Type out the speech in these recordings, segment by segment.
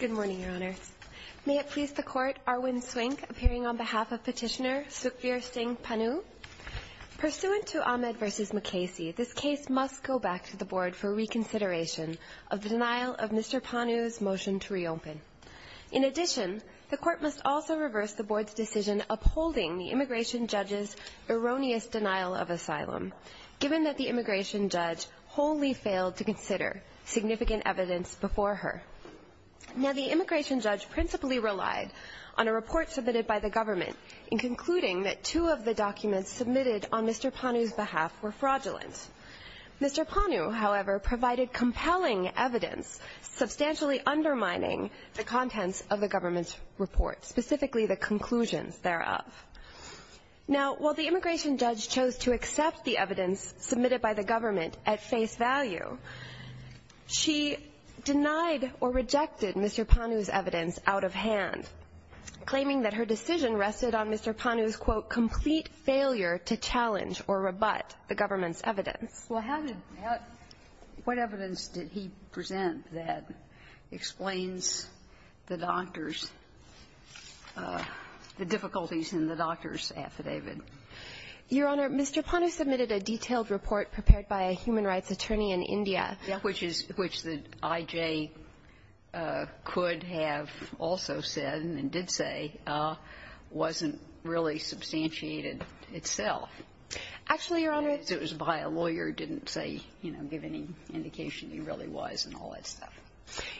Good morning, Your Honor. May it please the Court, Arwin Swink, appearing on behalf of Petitioner Sukhveer Singh Pannu. Pursuant to Ahmed v. McKasey, this case must go back to the Board for reconsideration of the denial of Mr. Pannu's motion to reopen. In addition, the Court must also reverse the Board's decision upholding the immigration judge's erroneous denial of asylum, given that the immigration judge wholly failed to consider significant evidence before her. The immigration judge principally relied on a report submitted by the government in concluding that two of the documents submitted on Mr. Pannu's behalf were fraudulent. Mr. Pannu, however, provided compelling evidence substantially undermining the contents of the government's report, specifically the conclusions thereof. Now, while the immigration judge chose to accept the evidence submitted by the government at face value, she denied or rejected Mr. Pannu's evidence out of hand, claiming that her decision rested on Mr. Pannu's, quote, complete failure to challenge or rebut the government's evidence. Well, how did that — what evidence did he present that explains the doctor's — the difficulties in the doctor's affidavit? Your Honor, Mr. Pannu submitted a detailed report prepared by a human rights attorney in India, which is — which the I.J. could have also said and did say wasn't really substantiated itself. Actually, Your Honor — It was by a lawyer, didn't say, you know, give any indication he really was and all that stuff.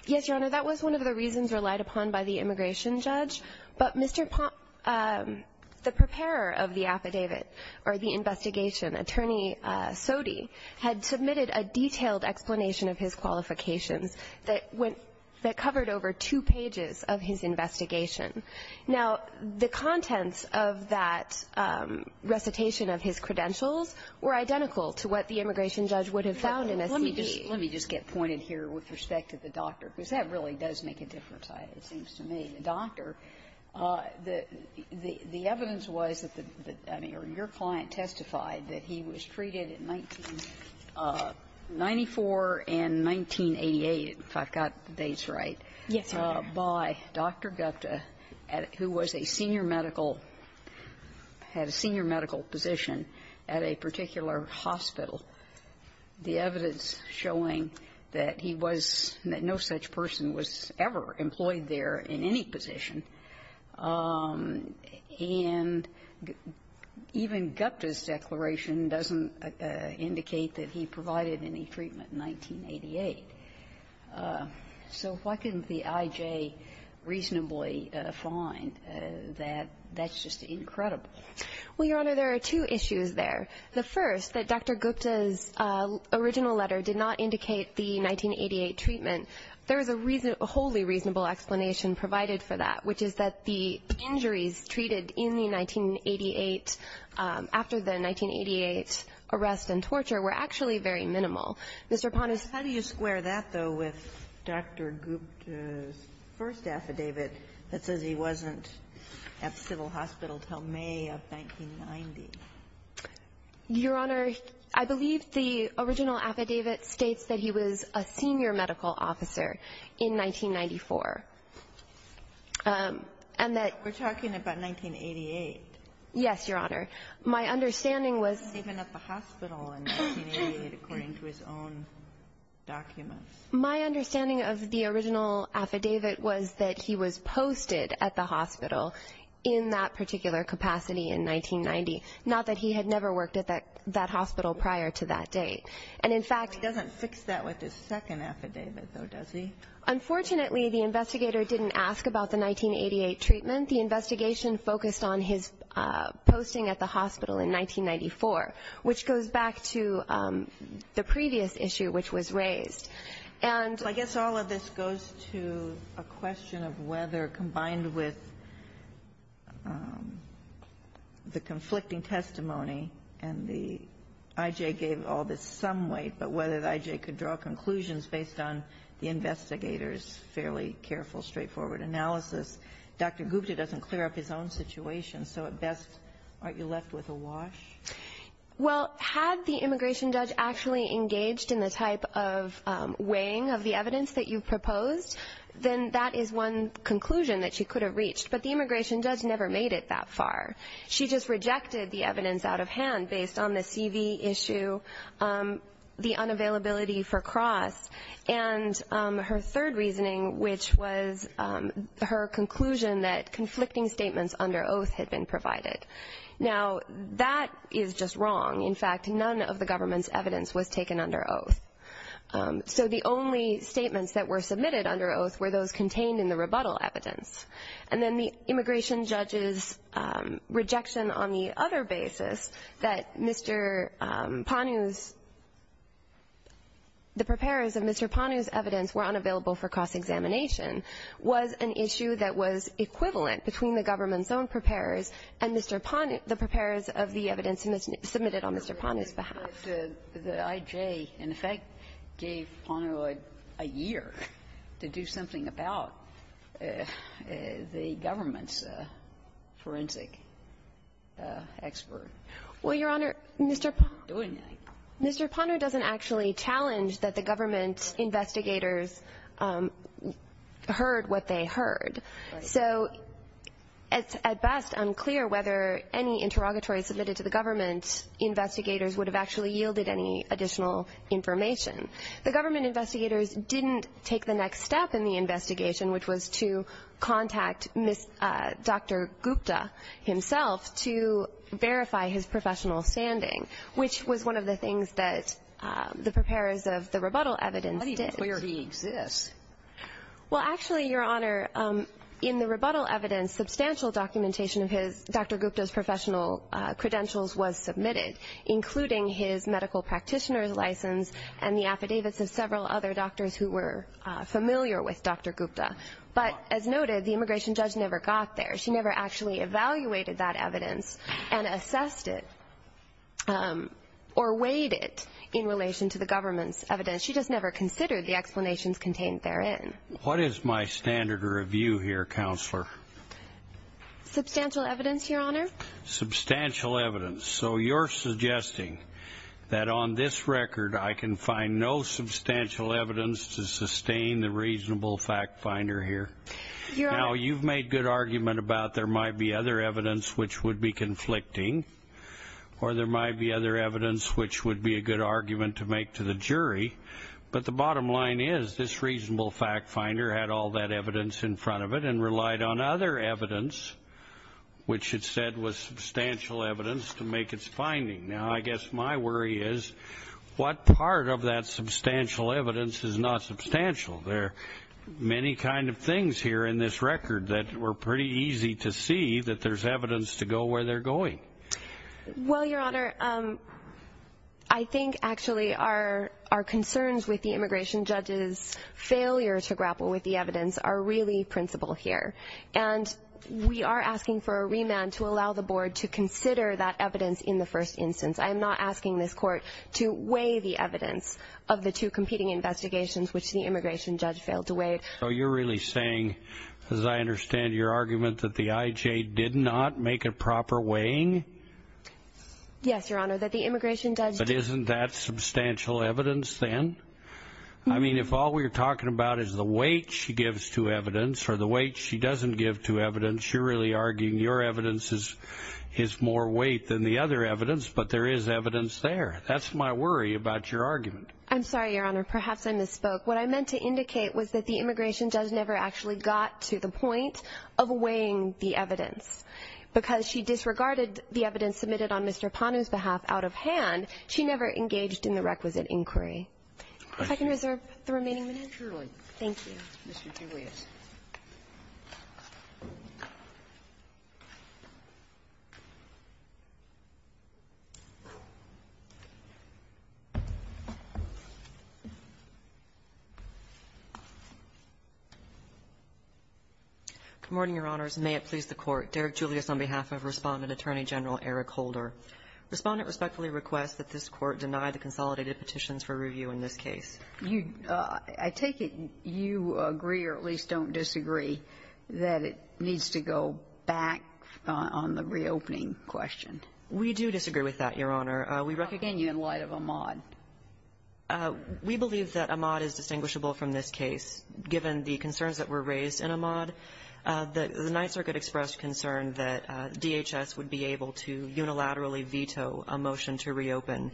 Yes, Your Honor. That was one of the reasons relied upon by the immigration judge. But Mr. Pannu, the preparer of the affidavit or the investigation, Attorney Sodhi, had submitted a detailed explanation of his qualifications that went — that covered over two pages of his investigation. Now, the contents of that recitation of his credentials were identical to what the immigration judge would have found in a CD. Let me just get pointed here with respect to the doctor, because that really does make a difference, it seems to me. The doctor, the evidence was that the — I mean, your client testified that he was treated in 1994 and 1988, if I've got the dates right, by Dr. Gupta, who was a senior medical — had a senior medical position at a particular hospital, the evidence showing that he was — that no such person was ever employed there in any position. And even Gupta's declaration doesn't indicate that he provided any treatment in 1988. So why couldn't the I.J. reasonably find that? That's just incredible. Well, Your Honor, there are two issues there. The first, that Dr. Gupta's original letter did not indicate the 1988 treatment. There is a reason — a wholly reasonable explanation provided for that, which is that the injuries treated in the 1988 — after the 1988 arrest and torture were actually very minimal. Mr. Ponis. How do you square that, though, with Dr. Gupta's first affidavit that says he wasn't at the civil hospital until May of 1990? Your Honor, I believe the original affidavit states that he was a senior medical officer in 1994, and that — But we're talking about 1988. Yes, Your Honor. My understanding was — He was even at the hospital in 1988, according to his own documents. My understanding of the original affidavit was that he was posted at the hospital in that particular capacity in 1990, not that he had never worked at that hospital prior to that date. And, in fact — He doesn't fix that with his second affidavit, though, does he? Unfortunately, the investigator didn't ask about the 1988 treatment. The investigation focused on his posting at the hospital in 1994, which goes back to the previous issue which was raised. And — Well, I guess all of this goes to a question of whether, combined with the conflicting testimony and the — I.J. gave all this some weight, but whether the I.J. could draw conclusions based on the investigator's fairly careful, straightforward analysis, Dr. Gupta doesn't clear up his own situation, so at best, aren't you left with a wash? Well, had the immigration judge actually engaged in the type of weighing of the evidence that you've proposed, then that is one conclusion that she could have reached. But the immigration judge never made it that far. She just rejected the evidence out of hand based on the C.V. issue, the unavailability for cross, and her third reasoning, which was her conclusion that conflicting statements under oath had been provided. Now, that is just wrong. In fact, none of the government's evidence was taken under oath. So the only statements that were submitted under oath were those contained in the rebuttal evidence. And then the immigration judge's rejection on the other basis that Mr. Panu's — the preparers of Mr. Panu's evidence were unavailable for cross-examination was an issue that was equivalent between the government's own preparers and Mr. Panu — the preparers of the evidence submitted on Mr. Panu's behalf. Sotomayor, the I.J. in effect gave Panu a year to do something about the government's forensic expert. Well, Your Honor, Mr. Panu doesn't actually challenge that the government investigators heard what they heard. So it's at best unclear whether any interrogatory submitted to the government investigators would have actually yielded any additional information. The government investigators didn't take the next step in the investigation, which was to contact Dr. Gupta himself to verify his professional standing, which was one of the things that the preparers of the rebuttal evidence did. But it's clear he exists. Well, actually, Your Honor, in the rebuttal evidence, substantial documentation of Dr. Gupta's professional credentials was submitted, including his medical practitioner's license and the affidavits of several other doctors who were familiar with Dr. Gupta. But as noted, the immigration judge never got there. She never actually evaluated that evidence and assessed it or weighed it in relation to the government's evidence. She just never considered the explanations contained therein. What is my standard review here, Counselor? Substantial evidence, Your Honor. Substantial evidence. So you're suggesting that on this record, I can find no substantial evidence to sustain the reasonable fact finder here? Your Honor- Now, you've made good argument about there might be other evidence which would be conflicting, or there might be other evidence which would be a good argument to make to the jury. But the bottom line is, this reasonable fact finder had all that evidence in front of it and relied on other evidence, which it said was substantial evidence, to make its finding. Now, I guess my worry is, what part of that substantial evidence is not substantial? There are many kinds of things here in this record that were pretty easy to see that there's evidence to go where they're going. Well, Your Honor, I think actually our concerns with the immigration judge's failure to grapple with the evidence are really principal here. And we are asking for a remand to allow the Board to consider that evidence in the first instance. I am not asking this Court to weigh the evidence of the two competing investigations which the immigration judge failed to weigh. So you're really saying, as I understand your argument, that the IJ did not make a proper weighing? Yes, Your Honor, that the immigration judge- But isn't that substantial evidence then? I mean, if all we're talking about is the weight she gives to evidence or the weight she doesn't give to evidence, you're really arguing your evidence is more weight than the other evidence, but there is evidence there. That's my worry about your argument. I'm sorry, Your Honor, perhaps I misspoke. What I meant to indicate was that the immigration judge never actually got to the point of weighing the evidence. Because she disregarded the evidence submitted on Mr. Panu's behalf out of hand, she never engaged in the requisite inquiry. If I can reserve the remaining minutes. Surely. Thank you. Mr. Julius. Good morning, Your Honors. May it please the Court. Derek Julius on behalf of Respondent Attorney General Eric Holder. Respondent respectfully requests that this Court deny the consolidated petitions for review in this case. I take it you agree, or at least don't disagree, that it needs to go back on the reopening question. We do disagree with that, Your Honor. Again, in light of Ahmaud. We believe that Ahmaud is distinguishable from this case, given the concerns that were raised in Ahmaud. The Ninth Circuit expressed concern that DHS would be able to unilaterally veto a motion to reopen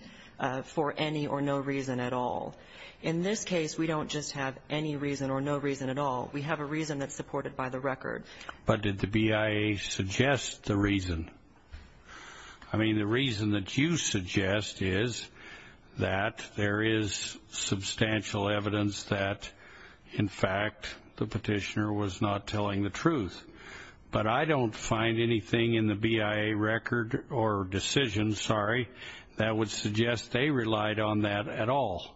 for any or no reason at all. In this case, we don't just have any reason or no reason at all. We have a reason that's supported by the record. But did the BIA suggest the reason? I mean, the reason that you suggest is that there is substantial evidence that, in fact, the petitioner was not telling the truth. But I don't find anything in the BIA record or decision, sorry, that would suggest they relied on that at all.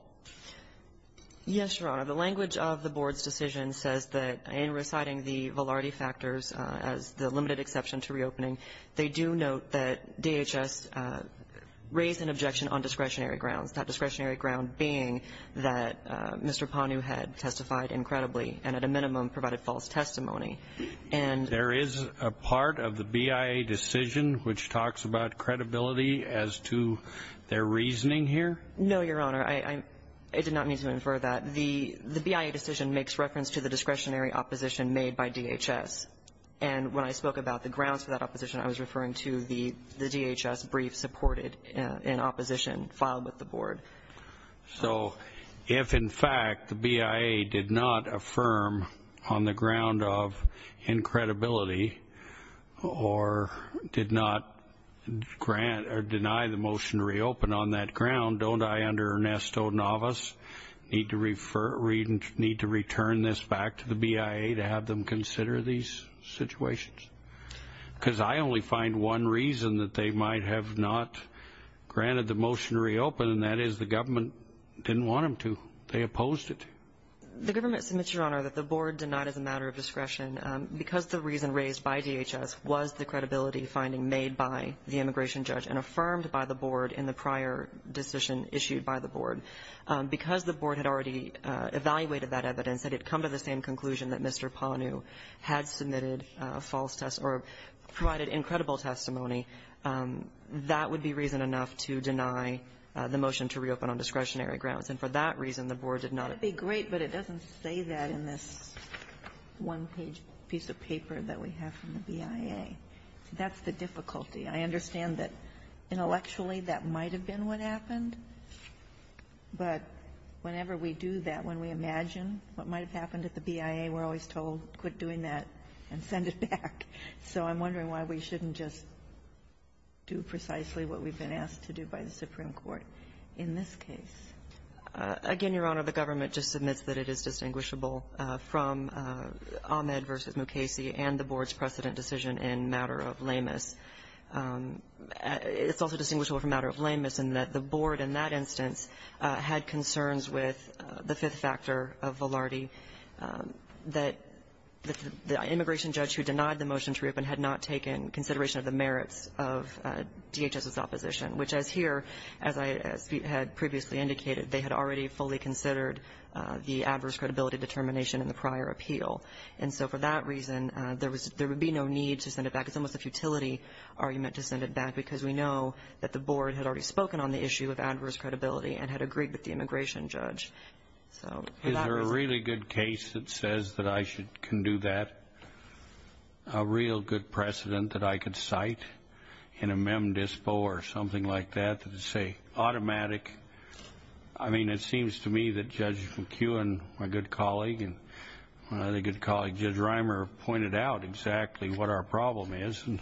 Yes, Your Honor. The language of the board's decision says that, in reciting the velarti factors as the limited exception to reopening, they do note that DHS raised an objection on discretionary grounds, that discretionary ground being that Mr. Panu had testified incredibly and, at a minimum, provided false testimony. And there is a part of the BIA decision which talks about credibility as to their reasoning here? No, Your Honor. I did not mean to infer that. The BIA decision makes reference to the discretionary opposition made by DHS. And when I spoke about the grounds for that opposition, I was referring to the DHS brief supported in opposition filed with the board. So if, in fact, the BIA did not affirm on the ground of incredibility or did not grant or deny the motion to reopen on that ground, don't I, under Ernesto Navas, need to return this back to the BIA to have them consider these situations? Because I only find one reason that they might have not granted the motion to reopen, and that is the government didn't want them to. They opposed it. The government submits, Your Honor, that the board denied as a matter of discretion because the reason raised by DHS was the credibility finding made by the immigration judge and affirmed by the board in the prior decision issued by the board. Because the board had already evaluated that evidence, had it come to the same conclusion that Mr. Ponnu had submitted false testimony or provided incredible testimony, that would be reason enough to deny the motion to reopen on discretionary grounds. And for that reason, the board did not approve. Sotomayor, that's great, but it doesn't say that in this one-page piece of paper that we have from the BIA. That's the difficulty. I understand that intellectually that might have been what happened, but whenever we do that, when we imagine what might have happened at the BIA, we're always told, quit doing that and send it back. So I'm wondering why we shouldn't just do precisely what we've been asked to do by the Supreme Court in this case. Again, Your Honor, the government just submits that it is distinguishable from Ahmed v. Mukasey and the board's precedent decision in matter of lameness. It's also distinguishable from matter of lameness in that the board in that instance had concerns with the fifth factor of Velarde, that the immigration judge who denied the motion to reopen had not taken consideration of the merits of DHS's opposition, which as here, as I had previously indicated, they had already fully considered the adverse credibility determination in the prior appeal. And so for that reason, there would be no need to send it back. It's almost a futility argument to send it back because we know that the board had already spoken on the issue of adverse credibility and had agreed with the immigration judge. So for that reason ---- Is there a really good case that says that I can do that, a real good precedent that I could cite in a mem dispo or something like that that would say automatic ---- I mean, it seems to me that Judge McKeown, my good colleague, and my other good colleague, Judge Reimer, pointed out exactly what our problem is. And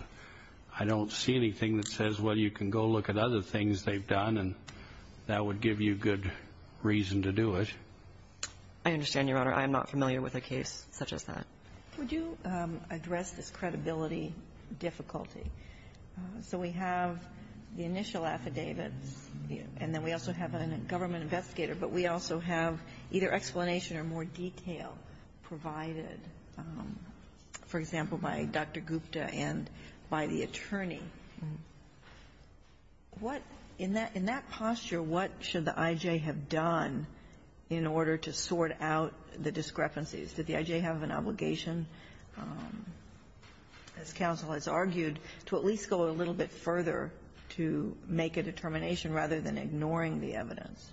I don't see anything that says, well, you can go look at other things they've done, and that would give you good reason to do it. I understand, Your Honor. I am not familiar with a case such as that. Kagan. Would you address this credibility difficulty? So we have the initial affidavits, and then we also have a government investigator, but we also have either explanation or more detail provided, for example, by Dr. Gupta and by the attorney. What ---- in that posture, what should the I.J. have done in order to sort out the discrepancies? Did the I.J. have an obligation, as counsel has argued, to at least go a little bit further to make a determination rather than ignoring the evidence?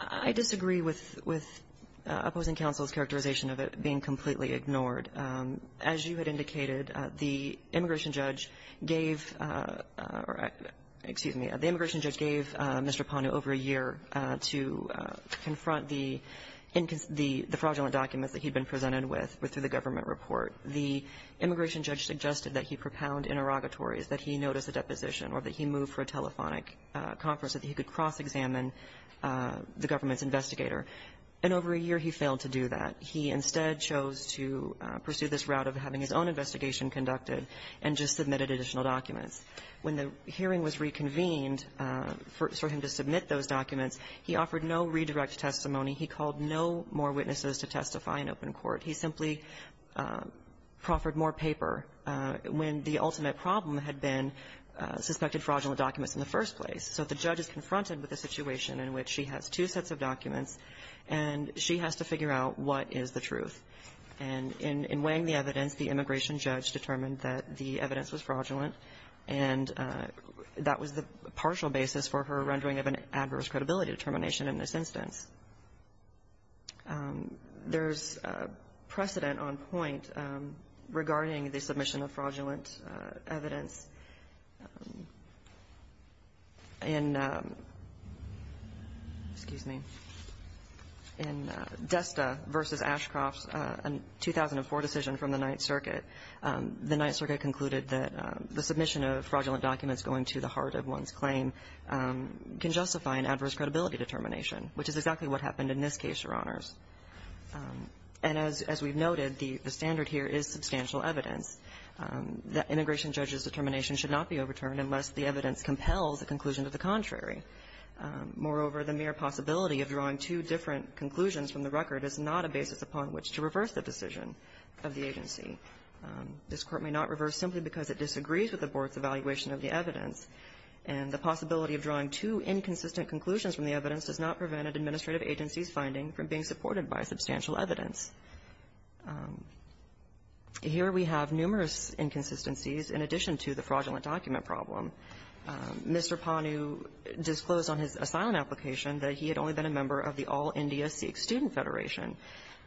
I disagree with ---- with opposing counsel's characterization of it being completely ignored. As you had indicated, the immigration judge gave ---- excuse me, the immigration judge gave Mr. Pano over a year to confront the fraudulent documents that he'd been presented with through the government report. The immigration judge suggested that he propound interrogatories, that he notice a deposition or that he move for a telephonic conference so that he could cross-examine the government's investigator. And over a year, he failed to do that. He instead chose to pursue this route of having his own investigation conducted and just submitted additional documents. When the hearing was reconvened for him to submit those documents, he offered no redirect testimony. He called no more witnesses to testify in open court. He simply proffered more paper when the ultimate problem had been suspected fraudulent documents in the first place. So if the judge is confronted with a situation in which she has two sets of documents and she has to figure out what is the truth, and in weighing the evidence, the immigration judge determined that the evidence was fraudulent, and that was the partial basis for her rendering of an adverse credibility determination in this instance. There's precedent on point regarding the submission of fraudulent evidence. In ---- excuse me. In Desta v. Ashcroft's 2004 decision from the Ninth Circuit, the Ninth Circuit concluded that the submission of fraudulent documents going to the heart of one's claim can justify an adverse credibility determination, which is exactly what happened in this case, Your Honors. And as we've noted, the standard here is substantial evidence. The immigration judge's determination should not be overturned unless the evidence compels a conclusion to the contrary. Moreover, the mere possibility of drawing two different conclusions from the record is not a basis upon which to reverse the decision of the agency. This Court may not reverse simply because it disagrees with the Board's evaluation of the evidence, and the possibility of drawing two inconsistent conclusions from the evidence does not prevent an administrative agency's finding from being supported by substantial evidence. Here we have numerous inconsistencies in addition to the fraudulent document problem. Mr. Panu disclosed on his asylum application that he had only been a member of the All India Sikh Student Federation,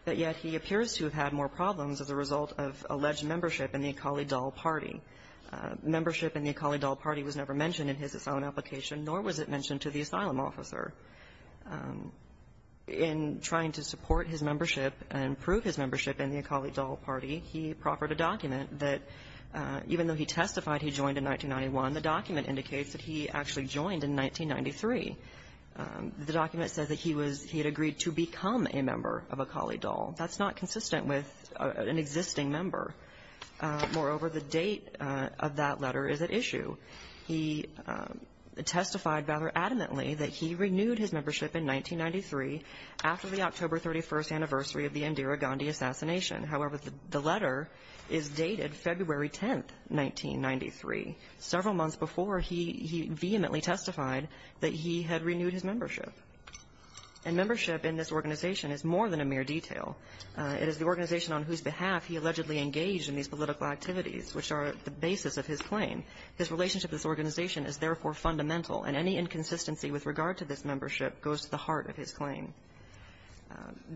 but yet he appears to have had more problems as a result of alleged membership in the Akali Dal Party. Membership in the Akali Dal Party was never mentioned in his asylum application, nor was it mentioned to the asylum officer. In trying to support his membership and prove his membership in the Akali Dal Party, he proffered a document that, even though he testified he joined in 1991, the document indicates that he actually joined in 1993. The document says that he was he had agreed to become a member of Akali Dal. That's not consistent with an existing member. Moreover, the date of that letter is at issue. He testified rather adamantly that he renewed his membership in 1993 after the October 31st anniversary of the Indira Gandhi assassination. However, the letter is dated February 10th, 1993, several months before he vehemently testified that he had renewed his membership. And membership in this organization is more than a mere detail. It is the organization on whose behalf he allegedly engaged in these political activities, which are the basis of his claim. His relationship with this organization is, therefore, fundamental, and any inconsistency with regard to this membership goes to the heart of his claim.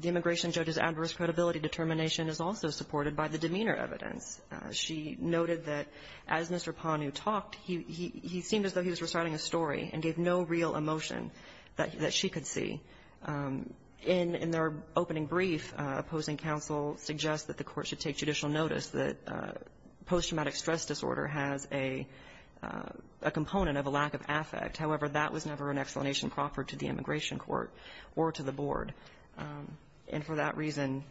The immigration judge's adverse credibility determination is also supported by the demeanor evidence. She noted that as Mr. Panu talked, he seemed as though he was reciting a story and gave no real emotion that she could see. In their opening brief, opposing counsel suggests that the court should take judicial notice that post-traumatic stress disorder has a component of a lack of affect. However, that was never an explanation proffered to the immigration court or to the board. And for that reason,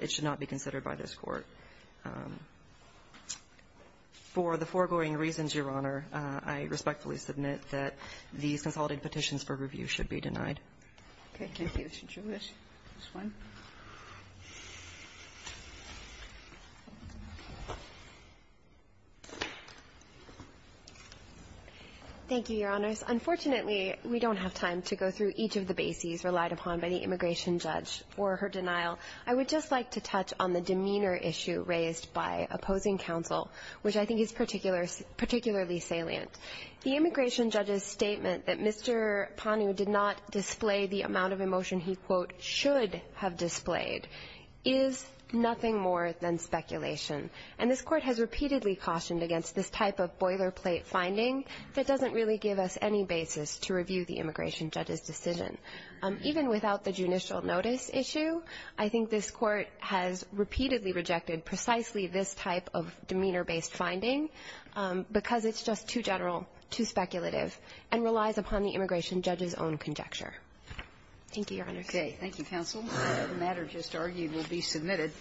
it should not be considered by this court. For the foregoing reasons, Your Honor, I respectfully submit that these consolidated petitions for review should be denied. Okay. Thank you. Should you wish this one? Thank you, Your Honors. Unfortunately, we don't have time to go through each of the bases relied upon by the immigration judge for her denial. I would just like to touch on the demeanor issue raised by opposing counsel, which I think is particularly salient. The immigration judge's statement that Mr. Panu did not display the amount of emotion he, quote, should have displayed is nothing more than speculation. And this Court has repeatedly cautioned against this type of boilerplate finding that doesn't really give us any basis to review the immigration judge's decision. Even without the judicial notice issue, I think this Court has repeatedly rejected precisely this type of demeanor-based finding because it's just too general, too speculative, and relies upon the immigration judge's own conjecture. Thank you, Your Honors. Okay. Thank you, counsel. The matter just argued will be submitted.